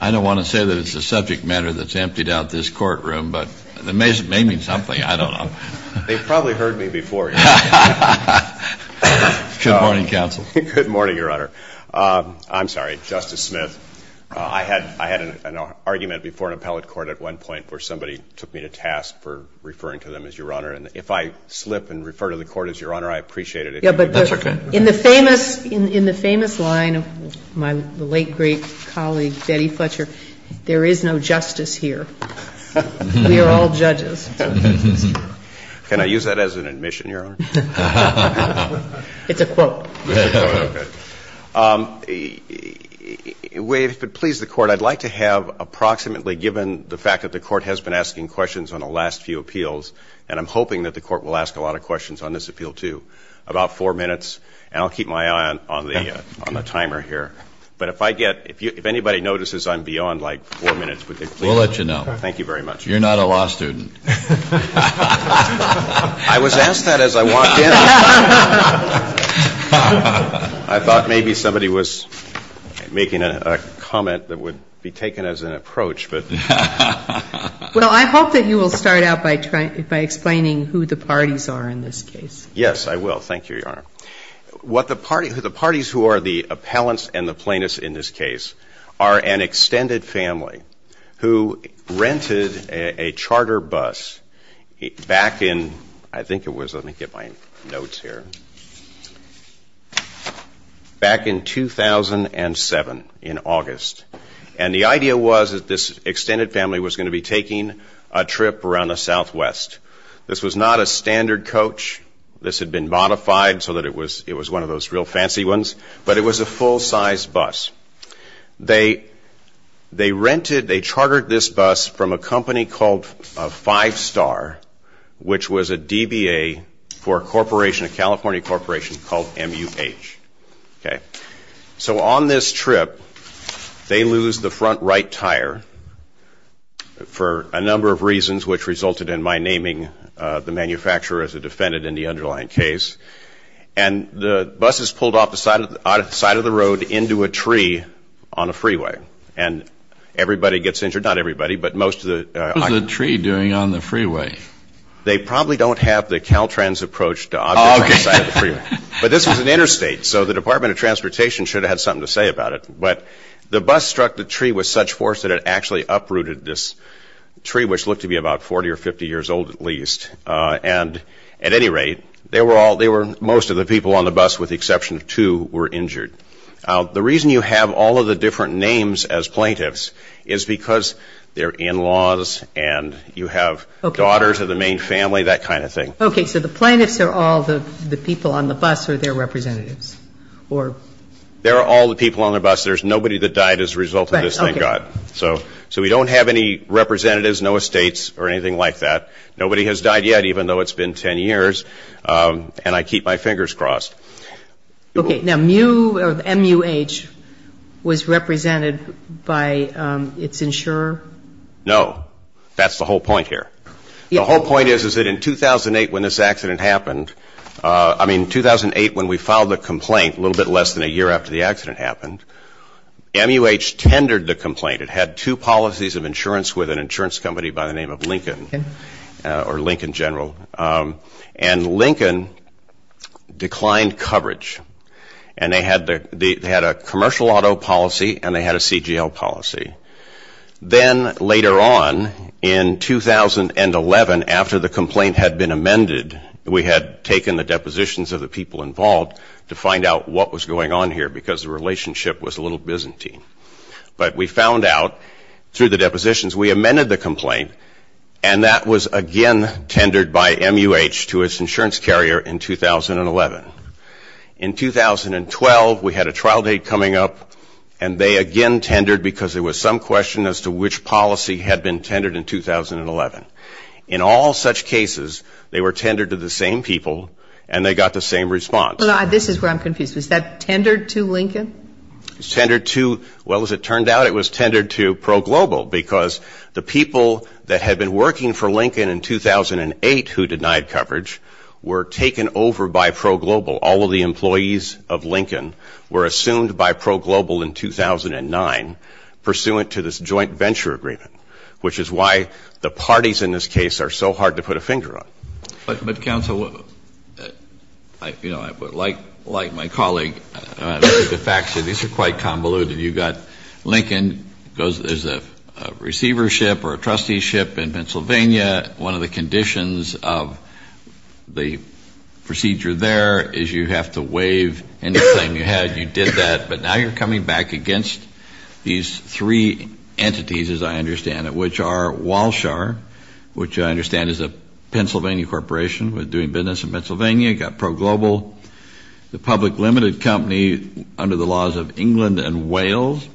I don't want to say that it's a subject matter that's emptied out this courtroom, but it may mean something. I don't know. They probably heard me before. Good morning, counsel. Good morning, Your Honor. I'm sorry, Justice Smith. I had an argument before in appellate court at one point where somebody took me to task for referring to them as Your Honor, and if I slip and refer to the court as Your Honor, I appreciate it. That's okay. In the famous line of my late great colleague, Betty Fletcher, there is no justice here. We are all judges. Can I use that as an admission, Your Honor? It's a quote. If it pleases the Court, I'd like to have approximately, given the fact that the Court has been asking questions on the last few appeals, and I'm hoping that the Court will ask a lot of questions on this appeal, too, about four minutes. And I'll keep my eye on the timer here. But if I get – if anybody notices I'm beyond, like, four minutes, would they please? We'll let you know. Thank you very much. You're not a law student. I was asked that as I walked in. I thought maybe somebody was making a comment that would be taken as an approach. Well, I hope that you will start out by explaining who the parties are in this case. Yes, I will. Thank you, Your Honor. What the parties – the parties who are the appellants and the plaintiffs in this case are an extended family who rented a charter bus back in – I think it was – let me get my notes here – back in 2007 in August. And the idea was that this extended family was going to be taking a trip around the Southwest. This was not a standard coach. This had been modified so that it was one of those real fancy ones. But it was a full-size bus. They rented – they chartered this bus from a company called Five Star, which was a DBA for a corporation, a California corporation called MUH. Okay. So on this trip, they lose the front right tire for a number of reasons, which resulted in my naming the manufacturer as a defendant in the underlying case. And the bus is pulled off the side of the road into a tree on a freeway. And everybody gets injured – not everybody, but most of the – What was the tree doing on the freeway? They probably don't have the Caltrans approach to objects on the side of the freeway. But this was an interstate, so the Department of Transportation should have had something to say about it. But the bus struck the tree with such force that it actually uprooted this tree, which looked to be about 40 or 50 years old at least. And at any rate, they were all – most of the people on the bus, with the exception of two, were injured. The reason you have all of the different names as plaintiffs is because they're in-laws and you have daughters of the main family, that kind of thing. Okay. So the plaintiffs are all the people on the bus, or they're representatives? There are all the people on the bus. There's nobody that died as a result of this, thank God. So we don't have any representatives, no estates, or anything like that. Nobody has died yet, even though it's been 10 years. And I keep my fingers crossed. Okay. Now, MUH was represented by its insurer? No. That's the whole point here. The whole point is that in 2008 when this accident happened – I mean, 2008 when we filed the complaint, a little bit less than a year after the accident happened, MUH tendered the complaint. It had two policies of insurance with an insurance company by the name of Lincoln, or Lincoln General. And Lincoln declined coverage. And they had a commercial auto policy and they had a CGL policy. Then later on, in 2011, after the complaint had been amended, we had taken the depositions of the people involved to find out what was going on here, because the relationship was a little byzantine. But we found out through the depositions we amended the complaint, and that was again tendered by MUH to its insurance carrier in 2011. In 2012, we had a trial date coming up, and they again tendered, because there was some question as to which policy had been tendered in 2011. In all such cases, they were tendered to the same people and they got the same response. This is where I'm confused. Was that tendered to Lincoln? It was tendered to – well, as it turned out, it was tendered to ProGlobal, because the people that had been working for Lincoln in 2008 who denied coverage were taken over by ProGlobal. All of the employees of Lincoln were assumed by ProGlobal in 2009, pursuant to this joint venture agreement, which is why the parties in this case are so hard to put a finger on. But, Counsel, like my colleague, the facts of these are quite convoluted. You've got Lincoln, there's a receivership or a trusteeship in Pennsylvania, one of the conditions of the procedure there is you have to waive any claim you had. You did that, but now you're coming back against these three entities, as I understand it, which are Walshar, which I understand is a Pennsylvania corporation doing business in Pennsylvania. You've got ProGlobal, the public limited company under the laws of England and Wales,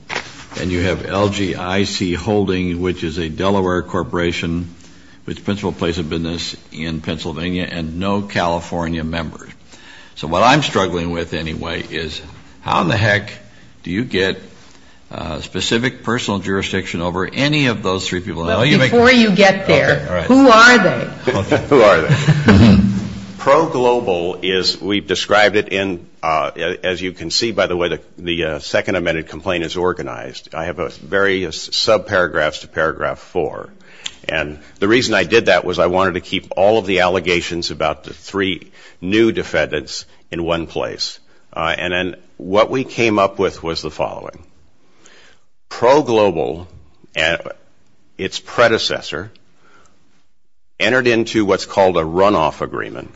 and you have LGIC Holding, which is a Delaware corporation, which in principle plays a business in Pennsylvania, and no California members. So what I'm struggling with anyway is how in the heck do you get specific personal jurisdiction over any of those three people? Before you get there, who are they? Who are they? ProGlobal is – we've described it in – as you can see, by the way, the second amended complaint is organized. I have various sub-paragraphs to paragraph four. And the reason I did that was I wanted to keep all of the allegations about the three new defendants in one place. And then what we came up with was the following. ProGlobal, its predecessor, entered into what's called a runoff agreement,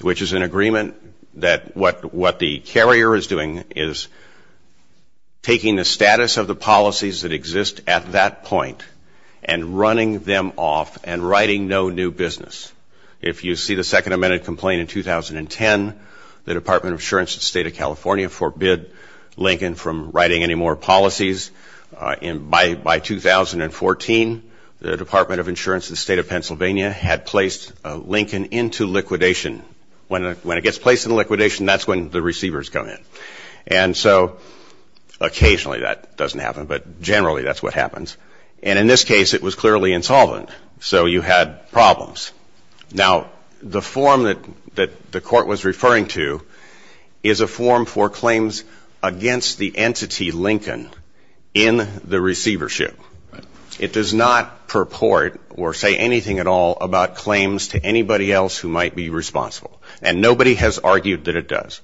which is an agreement that what the carrier is doing is taking the status of the policies that exist at that point and running them off and writing no new business. If you see the second amended complaint in 2010, the Department of Insurance of the State of California forbid Lincoln from writing any more policies. By 2014, the Department of Insurance of the State of Pennsylvania had placed Lincoln into liquidation. When it gets placed into liquidation, that's when the receivers come in. And so occasionally that doesn't happen, but generally that's what happens. And in this case, it was clearly insolvent. So you had problems. Now, the form that the court was referring to is a form for claims against the entity, Lincoln, in the receivership. It does not purport or say anything at all about claims to anybody else who might be responsible. And nobody has argued that it does.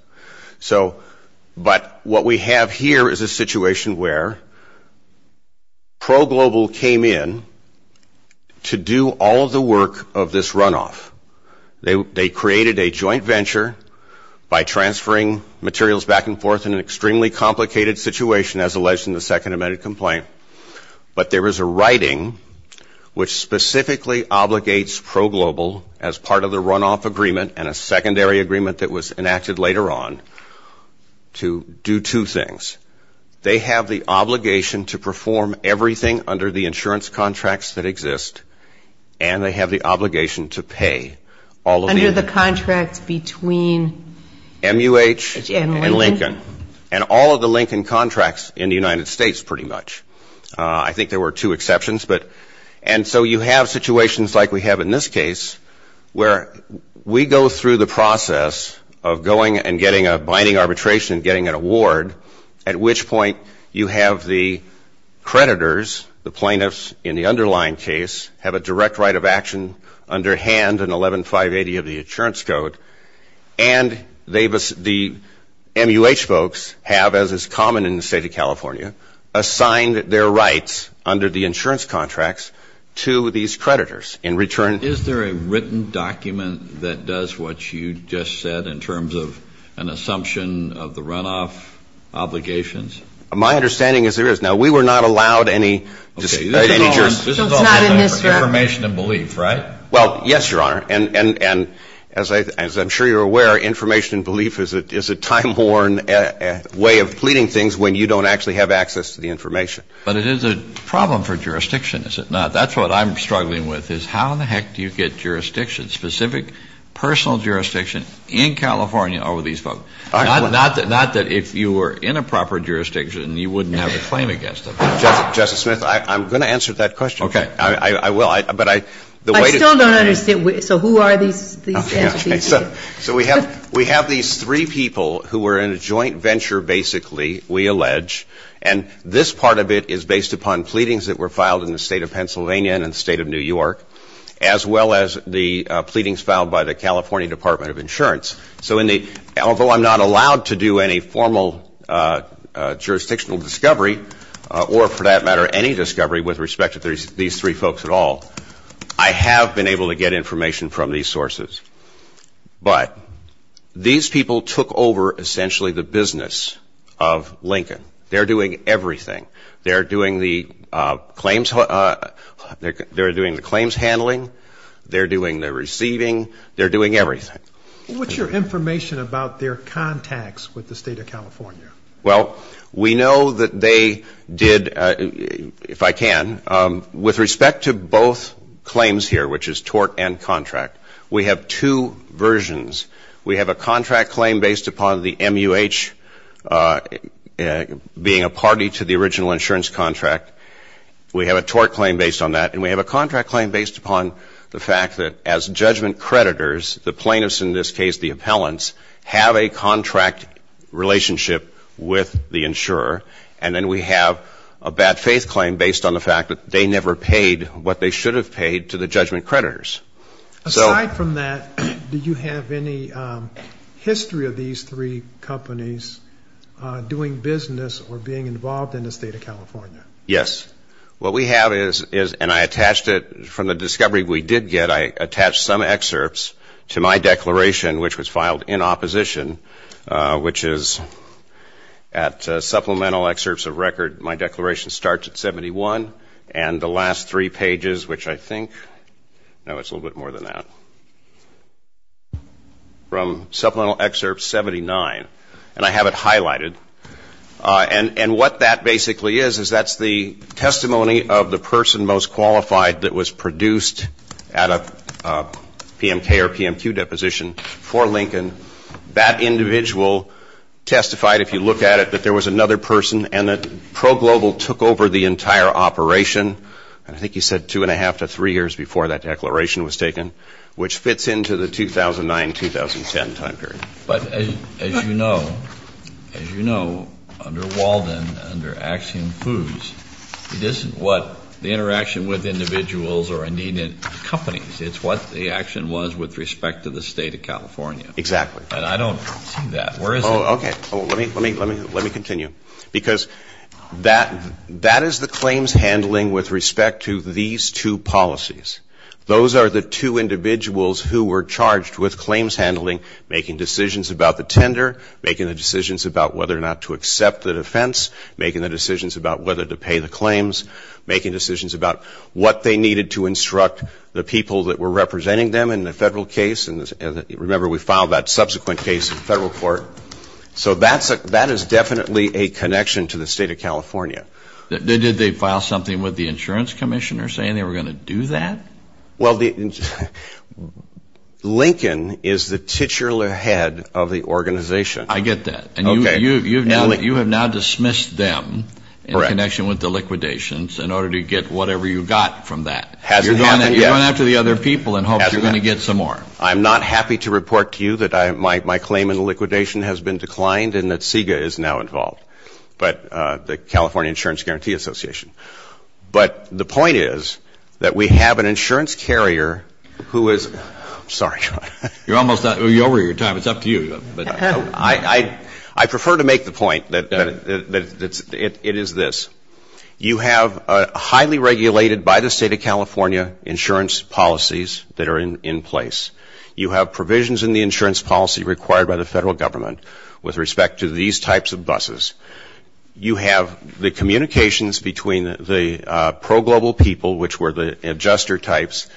So, but what we have here is a situation where ProGlobal came in to do all of the work of this agency. They created a joint venture by transferring materials back and forth in an extremely complicated situation, as alleged in the second amended complaint, but there is a writing which specifically obligates ProGlobal as part of the runoff agreement and a secondary agreement that was enacted later on to do two things. They have the obligation to perform everything under the insurance contracts that exist, and they have the obligation to pay all of the... Under the contracts between... MUH and Lincoln, and all of the Lincoln contracts in the United States, pretty much. I think there were two exceptions, but, and so you have situations like we have in this case, where we go through the process of going and getting a binding arbitration, getting an award, at which point you have the creditors, the plaintiffs in the underlying case, have a direct right of action underhand in 11-580 of the insurance code, and the MUH folks have, as is common in the State of California, assigned their rights under the insurance contracts to these creditors in return... Is there a written document that does what you just said in terms of an assumption of the runoff? My understanding is there is. Now, we were not allowed any... Information and belief, right? Well, yes, Your Honor, and as I'm sure you're aware, information and belief is a time-worn way of pleading things when you don't actually have access to the information. But it is a problem for jurisdiction, is it not? That's what I'm struggling with, is how in the heck do you get jurisdiction, specific personal jurisdiction in California over these folks? Not that if you were in a proper jurisdiction, you wouldn't have a claim against them. Justice Smith, I'm going to answer that question. I still don't understand, so who are these entities? So we have these three people who are in a joint venture, basically, we allege, and this part of it is based upon pleadings that were filed in the state of Pennsylvania and the state of New York, as well as the pleadings filed by the California Department of Insurance. So although I'm not allowed to do any formal jurisdictional discovery, or for that matter, any discovery with respect to these three folks at all, I have been able to get information from these sources. But these people took over essentially the business of Lincoln. They're doing everything. They're doing the claims handling, they're doing the receiving, they're doing everything. What's your information about their contacts with the state of California? Well, we know that they did, if I can, with respect to both claims here, which is tort and contract. We have two versions. We have a contract claim based upon the MUH being a party to the original insurance contract. We have a tort claim based on that, and we have a contract claim based upon the fact that as judgment creditors, the plaintiffs in this case, the appellants, have a contract relationship with the insurer. And then we have a bad faith claim based on the fact that they never paid what they should have paid to the judgment creditors. Aside from that, do you have any history of these three companies doing business or being involved in the state of California? Yes. What we have is, and I attached it from the discovery we did get, I attached some excerpts to my declaration, which was filed in opposition, which is at supplemental excerpts of record, my declaration starts at 71, and the last three pages, which I think, no, it's a little bit more than that, from supplemental excerpt 79, and I have it highlighted. And what that basically is, is that's the testimony of the person most qualified that was produced at a PMK or PMQ deposition for Lincoln. That individual testified, if you look at it, that there was another person and that ProGlobal took over the entire operation, and I think you said two and a half to three years before that declaration was taken, which fits into the 2009-2010 time period. But as you know, as you know, under Walden, under Axiom Foods, it isn't what the interaction with individuals or, indeed, companies, it's what the action was with respect to the state of California. Exactly. And I don't see that. Where is it? Oh, okay. Let me continue. Because that is the claims handling with respect to these two policies. Those are the two individuals who were charged with claims handling, making decisions about the tender, making the decisions about whether or not to accept the defense, making the decisions about whether to pay the claims, making decisions about what they needed to instruct the people that were representing them in the federal case. And remember, we filed that subsequent case in federal court. So that is definitely a connection to the state of California. Did they file something with the insurance commissioner saying they were going to do that? Well, Lincoln is the titular head of the organization. I get that. And you have now dismissed them in connection with the liquidations in order to get whatever you got from that. You're going after the other people in hopes you're going to get some more. I'm not happy to report to you that my claim in the liquidation has been declined and that SIGA is now involved, the California Insurance Guarantee Association. But the point is that we have an insurance carrier who is ‑‑ I'm sorry, John. You're almost over your time. It's up to you. I prefer to make the point that it is this. You have highly regulated by the state of California insurance policies that are in place. You have provisions in the insurance policy required by the federal government with respect to these types of buses. You have the communications between the pro‑global people, which were the adjuster types,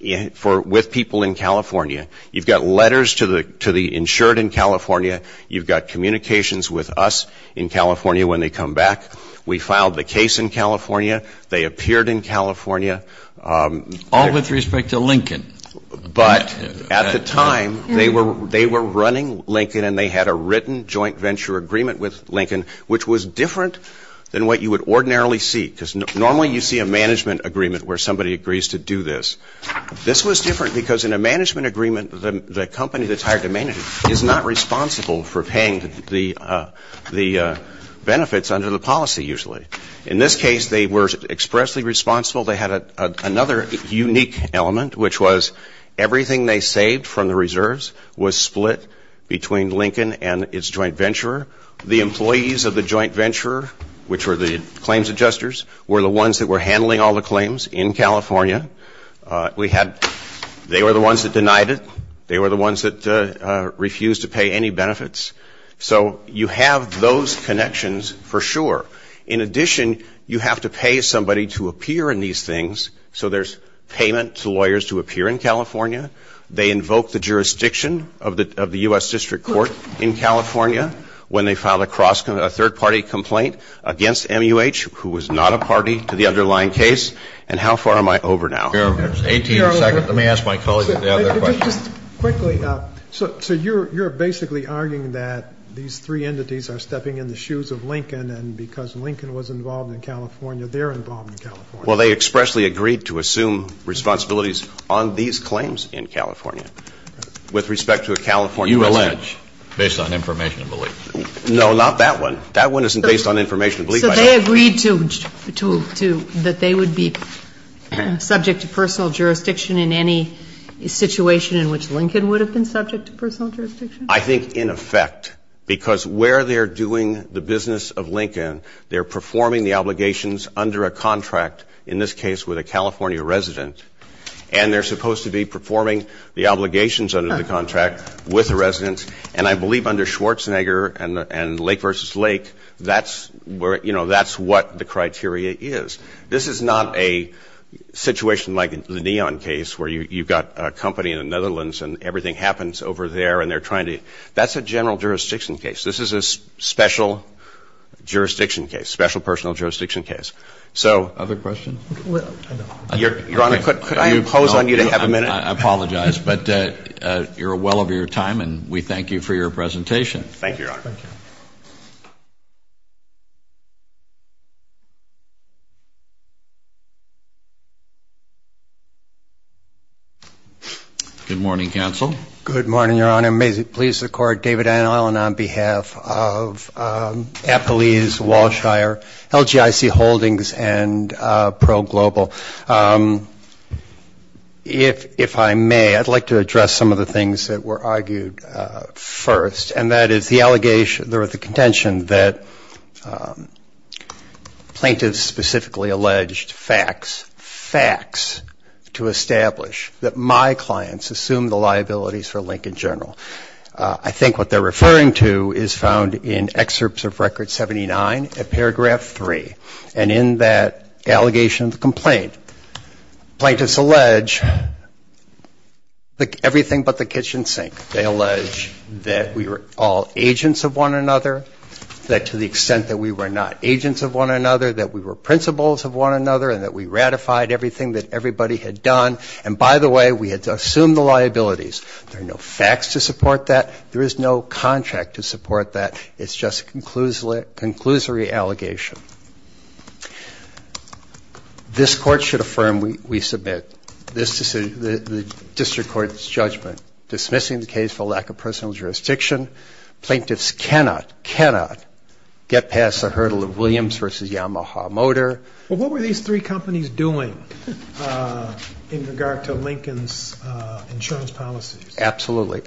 with people in California. You've got letters to the insured in California. You've got communications with us in California when they come back. We filed the case in California. They appeared in California. All with respect to Lincoln. But at the time they were running Lincoln and they had a written joint venture agreement with Lincoln, which was different than what you would ordinarily see. Because normally you see a management agreement where somebody agrees to do this. This was different because in a management agreement the company that's hired to manage it is not responsible for paying the benefits under the policy usually. In this case they were expressly responsible. They had another unique element, which was everything they saved from the reserves was split between Lincoln and its joint venture. The employees of the joint venture, which were the claims adjusters, were the ones that were handling all the claims in California. They were the ones that denied it. They were the ones that refused to pay any benefits. So you have those connections for sure. In addition, you have to pay somebody to appear in these things. So there's payment to lawyers to appear in California. They invoke the jurisdiction of the U.S. District Court in California when they filed a third-party complaint against MUH, who was not a party to the underlying case. And how far am I over now? 18 seconds. Let me ask my colleague the other question. Just quickly, so you're basically arguing that these three entities are stepping in the shoes of Lincoln, and because Lincoln was involved in California, they're involved in California. Well, they expressly agreed to assume responsibilities on these claims in California. With respect to a California resident. You allege, based on information of belief. No, not that one. That one isn't based on information of belief. So they agreed that they would be subject to personal jurisdiction in any situation in which Lincoln would have been subject to personal jurisdiction? I think in effect, because where they're doing the business of Lincoln, they're performing the obligations under a contract, in this case with a California resident. And they're supposed to be performing the obligations under the contract with the resident. And I believe under Schwarzenegger and Lake versus Lake, that's where, you know, that's what the criteria is. This is not a situation like the Neon case, where you've got a company in the Netherlands, and everything happens over there, and they're trying to, that's a general jurisdiction case. This is a special jurisdiction case, special personal jurisdiction case. Other questions? Your Honor, could I impose on you to have a minute? I apologize, but you're well over your time, and we thank you for your presentation. Thank you, Your Honor. Good morning, counsel. Good morning, Your Honor. May it please the Court, David Allen on behalf of Appalese, Walshire, LGIC Holdings, and ProGlobal. If I may, I'd like to address some of the things that were argued first, and that is the allegation or the contention that plaintiffs specifically alleged facts, facts to establish that my clients assumed the liabilities for Lincoln General. I think what they're referring to is found in Excerpts of Record 79 at paragraph 3, and in that allegation of the complaint, plaintiffs allege everything but the kitchen sink. They allege that we were all agents of one another, that to the extent that we were not agents of one another, that we were principals of one another, and that we ratified everything that everybody had done, and by the way, we had assumed the liabilities. There are no facts to support that. There is no contract to support that. It's just a conclusory allegation. This Court should affirm we submit the District Court's judgment dismissing the case for lack of personal jurisdiction. Plaintiffs cannot, cannot get past the hurdle of Williams v. Yamaha Motor. Absolutely.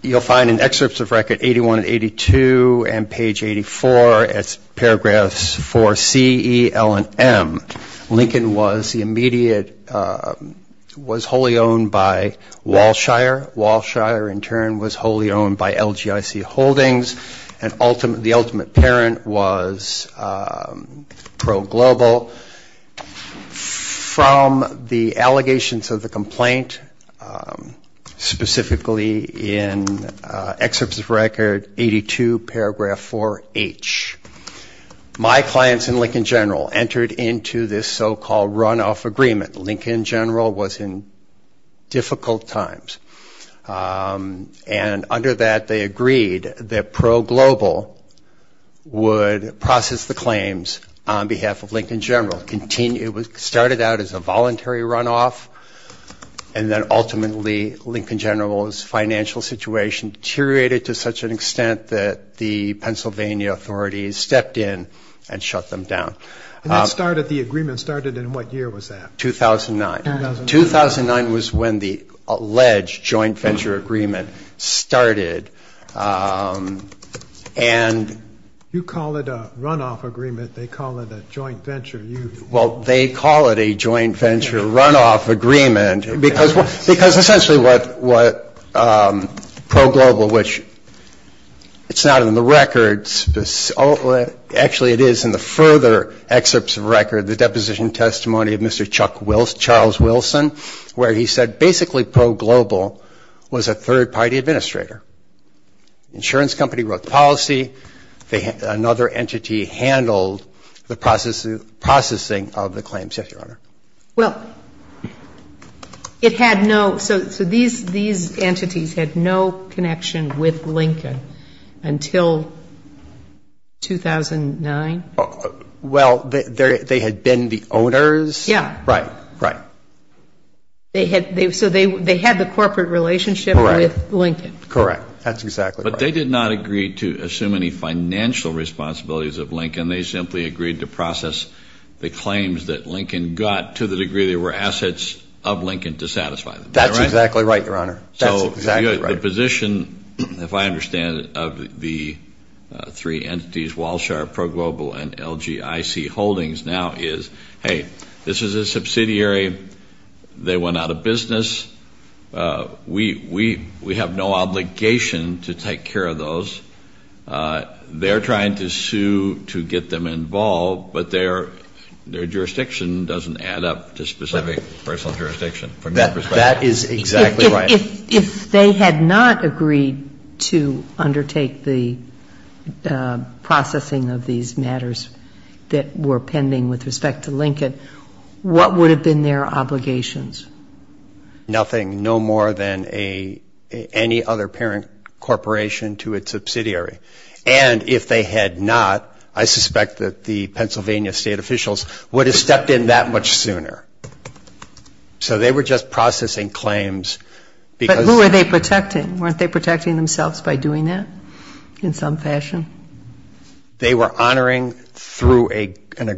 You'll find in Excerpts of Record 81 and 82 and page 84, it's paragraphs 4C, E, L, and M. Lincoln was the immediate, was wholly owned by Walshire. Walshire in turn was wholly owned by LGIC Holdings, and the ultimate parent was Pro Global. From the allegations of the complaint, specifically in Excerpts of Record 82, paragraph 4H, my clients in Lincoln General entered into this so-called runoff agreement. Lincoln General was in difficult times, and under that they agreed that Pro Global would process the claims on behalf of Lincoln General. It started out as a voluntary runoff, and then ultimately Lincoln General's financial situation deteriorated to such an extent that the Pennsylvania authorities stepped in and shut them down. And the agreement started in what year was that? 2009. 2009 was when the alleged joint venture agreement started. And... You call it a runoff agreement. They call it a joint venture. Well, they call it a joint venture runoff agreement, because essentially what Pro Global, which it's not in the records, actually it is in the further Excerpts of Record, the deposition testimony of Mr. Chuck Wilson, Charles Wilson, where he said basically Pro Global was a third-party administrator. Insurance company wrote the policy. Another entity handled the processing of the claims. Yes, Your Honor. Well, it had no so these entities had no connection with Lincoln until 2009? Well, they had been the owners. Yes. Right, right. So they had the corporate relationship with Lincoln. Correct. That's exactly right. But they did not agree to assume any financial responsibilities of Lincoln. They simply agreed to process the claims that Lincoln got to the degree they were assets of Lincoln to satisfy them. That's exactly right, Your Honor. So the position, if I understand it, of the three entities, Walshar, Pro Global, and LGIC Holdings now is, hey, this is a subsidiary. They went out of business. We have no obligation to take care of those. They're trying to sue to get them involved, but their jurisdiction doesn't add up to specific personal jurisdiction from their perspective. That is exactly right. If they had not agreed to undertake the processing of these matters that were pending with respect to Lincoln, what would have been their obligations? Nothing, no more than any other parent corporation to its subsidiary. And if they had not, I suspect that the Pennsylvania state officials would have stepped in that much sooner. So they were just processing claims. But who were they protecting? Weren't they protecting themselves by doing that in some fashion? They were honoring the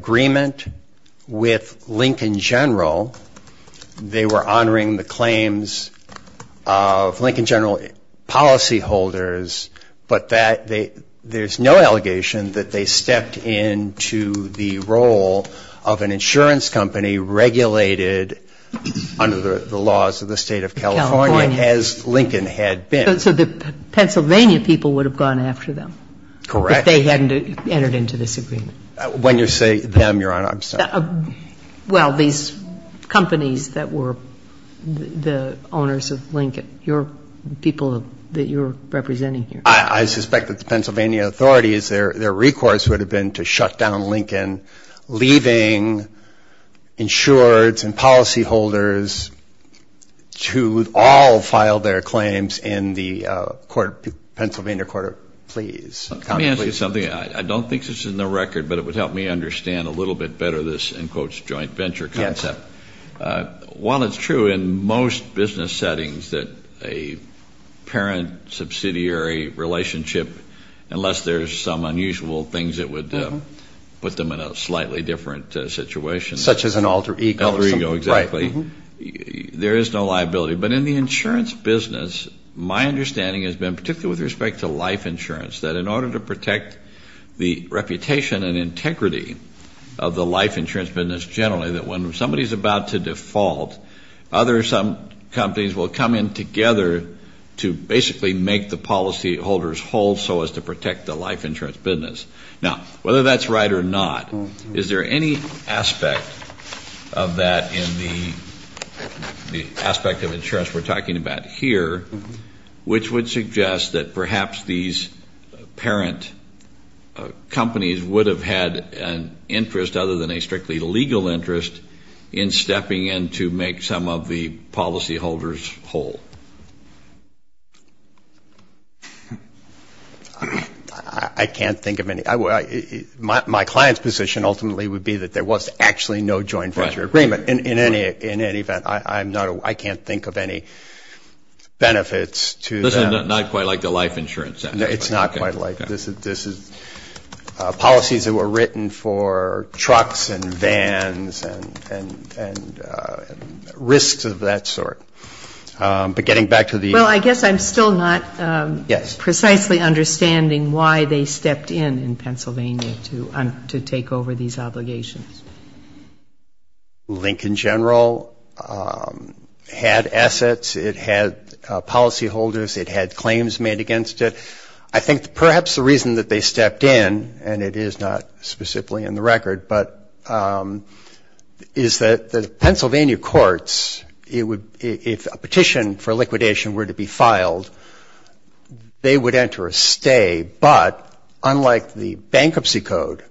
claims of Lincoln general policyholders, but there's no allegation that they stepped into the role of an insurance company regulated under the laws of the State of California, as Lincoln had been. So the Pennsylvania people would have gone after them. Correct. If they hadn't entered into this agreement. When you say them, Your Honor, I'm sorry. Well, these companies that were the owners of Lincoln, the people that you're representing here. I suspect that the Pennsylvania authorities, their recourse would have been to shut down Lincoln, leaving insureds and policyholders to all file their claims in the Pennsylvania Court of Pleas. Let me say something. I don't think this is in the record, but it would help me understand a little bit better this, in quotes, joint venture concept. While it's true in most business settings that a parent subsidiary relationship, unless there's some unusual things that would put them in a slightly different situation. Such as an alter ego. Alter ego, exactly. There is no liability. But in the insurance business, my understanding has been, particularly with respect to life insurance, that in order to protect the reputation and integrity of the life insurance business generally, that when somebody's about to default, other some companies will come in together to basically make the policyholders whole so as to protect the life insurance business. Now, whether that's right or not, is there any aspect of that in the aspect of insurance we're talking about here, which would suggest that perhaps these parent companies would have had an interest, other than a strictly legal interest, in stepping in to make some of the policyholders whole? I can't think of any. My client's position ultimately would be that there was actually no joint venture agreement in any event. I can't think of any benefits to that. Not quite like the life insurance. No, it's not quite like that. This is policies that were written for trucks and vans and risks of that sort. But getting back to the... Well, I guess I'm still not precisely understanding why they stepped in in Pennsylvania to take over these obligations. Lincoln General had assets. It had policyholders. It had claims made against it. I think perhaps the reason that they stepped in, and it is not specifically in the record, is that the Pennsylvania courts, if a petition for liquidation were to be filed, they would enter a stay. But unlike the Bankruptcy Code,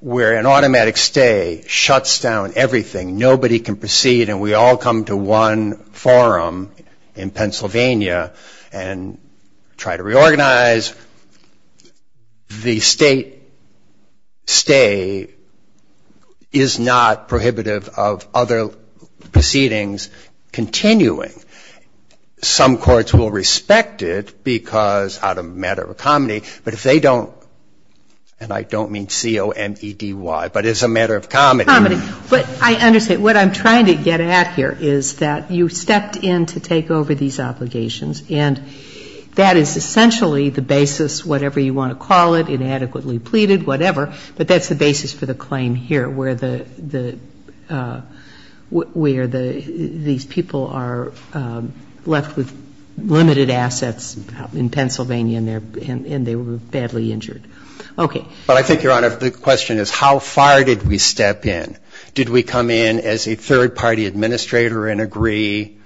where an automatic stay shuts down everything, nobody can proceed, and we all come to one forum in Pennsylvania and try to reorganize, the state stay is not prohibitive of other proceedings continuing. Some courts will respect it because, out of a matter of comedy, but if they don't, and I don't mean C-O-M-E-D-Y, but as a matter of comedy. But I understand. What I'm trying to get at here is that you stepped in to take over these obligations, and that is essentially the basis, whatever you want to call it, inadequately pleaded, whatever, but that's the basis for the claim here, where the, where these people are left with limited assets in Pennsylvania and they were badly injured. Okay. But I think, Your Honor, the question is, how far did we step in? Did we come in as a third-party administrator and agree,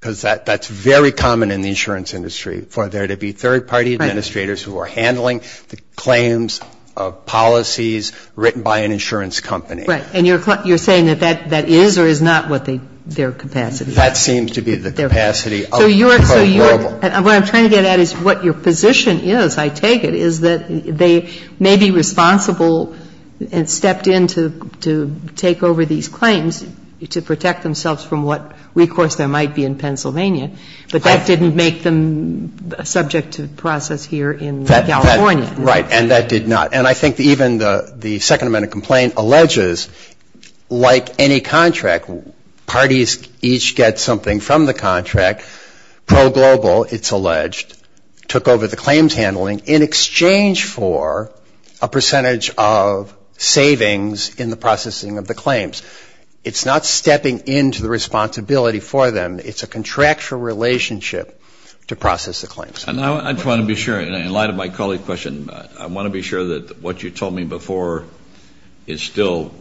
because that's very common in the insurance industry, for there to be third-party administrators who are handling the claims of policies written by an insurance company. Right. And you're saying that that is or is not what their capacity is? That seems to be the capacity of the pro-verbal. What I'm trying to get at is what your position is, I take it, is that they may be responsible and stepped in to take over these claims to protect themselves from what recourse there might be in Pennsylvania, but that didn't make them subject to process here in California. Right. And that did not. And I think even the Second Amendment complaint alleges, like any contract, parties each get something from the contract, pro-global, it's alleged, took over the claims handling in exchange for a percentage of savings in the processing of the claims. It's not stepping in to the responsibility for them. It's a contractual relationship to process the claims. And I just want to be sure, in light of my colleague's question, I want to be sure that what you told me before is still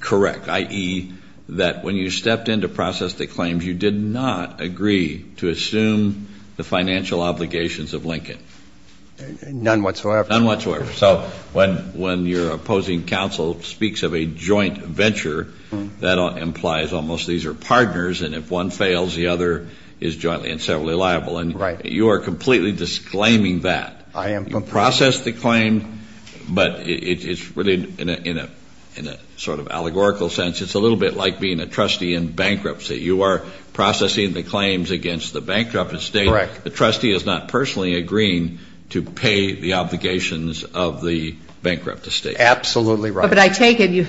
correct, i.e., that when you stepped in to process the claims, you did not agree to assume the financial obligations of Lincoln. None whatsoever. None whatsoever. So when your opposing counsel speaks of a joint venture, that implies almost these are partners, and if one fails, the other is jointly and severally liable. Right. And you are completely disclaiming that. You process the claim, but it's really in a sort of allegorical sense, it's a little bit like being a trustee in bankruptcy. You are processing the claims against the bankrupt estate. Correct. The trustee is not personally agreeing to pay the obligations of the bankrupt estate. Absolutely right. But I take it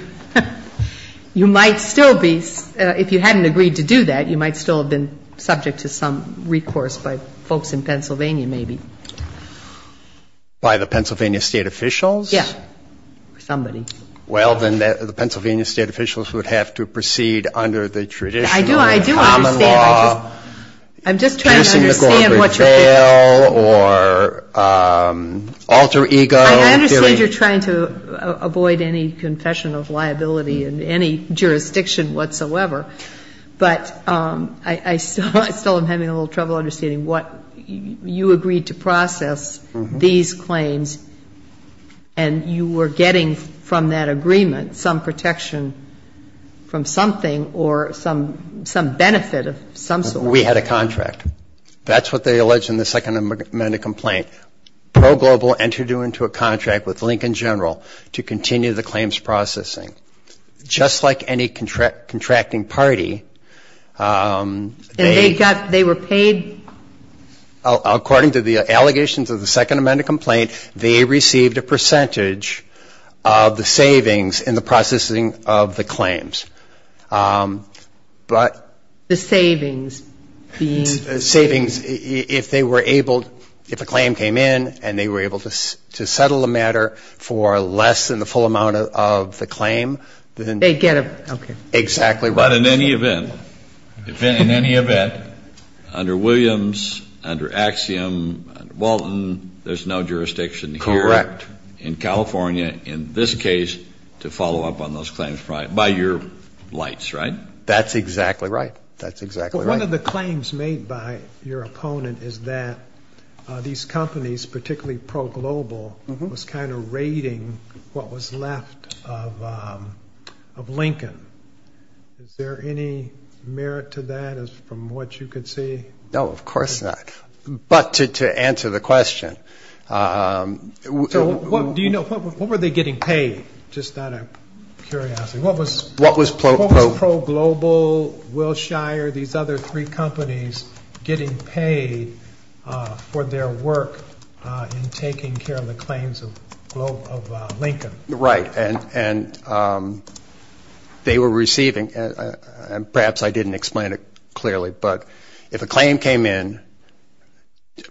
you might still be, if you hadn't agreed to do that, you might still have been subject to some recourse by folks in Pennsylvania maybe. By the Pennsylvania State officials? Yes. Somebody. Well, then the Pennsylvania State officials would have to proceed under the traditional common law. I do understand. I'm just trying to understand what you're saying. I'm just trying to understand what you're saying. Or alter ego. I understand you're trying to avoid any confession of liability in any jurisdiction whatsoever, but I still am having a little trouble understanding what you agreed to process these claims and you were getting from that agreement some protection from something or some benefit of some sort. We had a contract. That's what they alleged in the Second Amendment complaint. Pro Global entered into a contract with Lincoln General to continue the claims processing. Just like any contracting party. And they were paid? According to the allegations of the Second Amendment complaint, they received a percentage of the savings in the processing of the claims. But. The savings being? Savings. If they were able, if a claim came in and they were able to settle the matter for less than the full amount of the claim, then. They get a. Exactly right. But in any event. In any event. Under Williams. Under Axiom. Walton. There's no jurisdiction. Correct. In California. In this case. To follow up on those claims. Right. By your lights. Right. That's exactly right. That's exactly right. One of the claims made by your opponent is that these companies, particularly Pro Global, was kind of raiding what was left of Lincoln. Is there any merit to that as from what you could see? No, of course not. But to answer the question. What do you know? What were they getting paid? Just out of curiosity. What was. What was. Pro Global. Wilshire. These other three companies getting paid for their work in taking care of the claims of Lincoln. Right. And they were receiving. Perhaps I didn't explain it clearly. But if a claim came in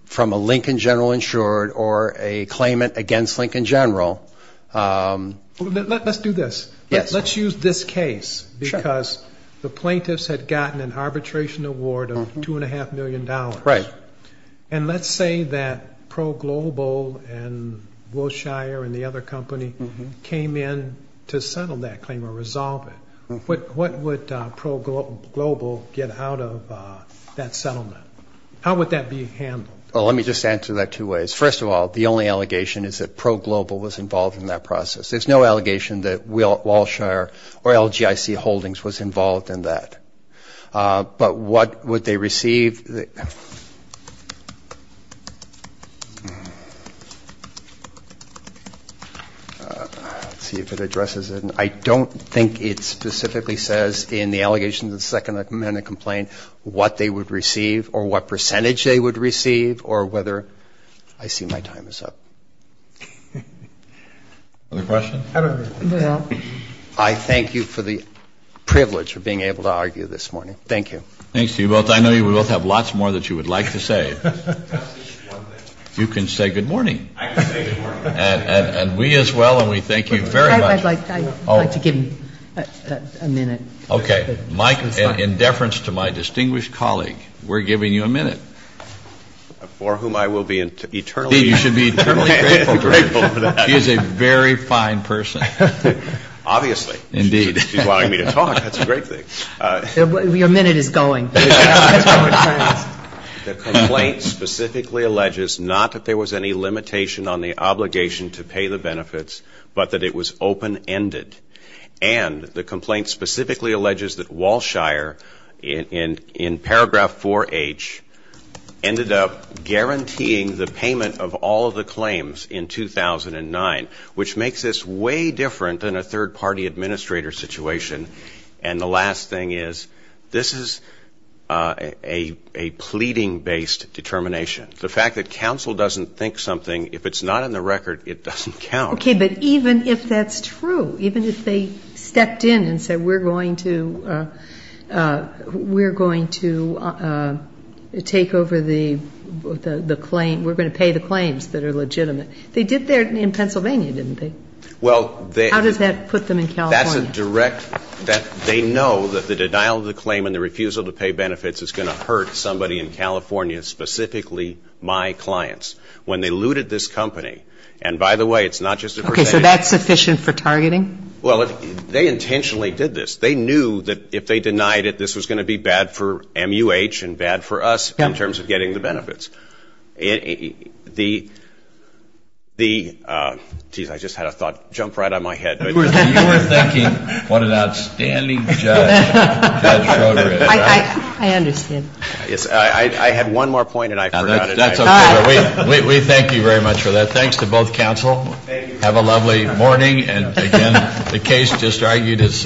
from a Lincoln general insured or a claimant against Lincoln general. Let's do this. Yes. Let's use this case. Because the plaintiffs had gotten an arbitration award of two and a half million dollars. Right. And let's say that Pro Global and Wilshire and the other company came in to settle that claim or resolve it. What would Pro Global get out of that settlement? How would that be handled? Well, let me just answer that two ways. First of all, the only allegation is that Pro Global was involved in that process. There's no allegation that Wilshire or LGIC Holdings was involved in that. But what would they receive? Let's see if it addresses it. I don't think it specifically says in the allegations of the second amendment complaint what they would receive or what percentage they would receive or whether. I see my time is up. Other questions? No. I thank you for the privilege of being able to argue this morning. Thank you. Thanks to you both. I know you both have lots more that you would like to say. You can say good morning. I can say good morning. And we as well. And we thank you very much. I'd like to give him a minute. Okay. In deference to my distinguished colleague, we're giving you a minute. For whom I will be eternally grateful. You should be eternally grateful. Grateful for that. He is a very fine person. Obviously. Indeed. He's allowing me to talk. That's a great thing. Your minute is going. The complaint specifically alleges not that there was any limitation on the obligation to pay the benefits, but that it was open-ended. And the complaint specifically alleges that Walshire, in paragraph 4H, ended up guaranteeing the payment of all of the claims in 2009, which makes this way different than a third-party administrator situation. And the last thing is, this is a pleading-based determination. The fact that counsel doesn't think something, if it's not in the record, it doesn't count. Okay. But even if that's true, even if they stepped in and said, we're going to take over the claim, we're going to pay the claims that are legitimate. They did that in Pennsylvania, didn't they? How does that put them in California? That's a direct, they know that the denial of the claim and the refusal to pay benefits is going to hurt somebody in California, specifically my clients. When they looted this company, and by the way, it's not just a percentage. Okay. So that's sufficient for targeting? Well, they intentionally did this. They knew that if they denied it, this was going to be bad for MUH and bad for us in terms of getting the benefits. The, geez, I just had a thought jump right out of my head. You were thinking, what an outstanding judge. I understand. I had one more point and I forgot it. That's okay. We thank you very much for that. Thanks to both counsel. Have a lovely morning. And again, the case just argued is.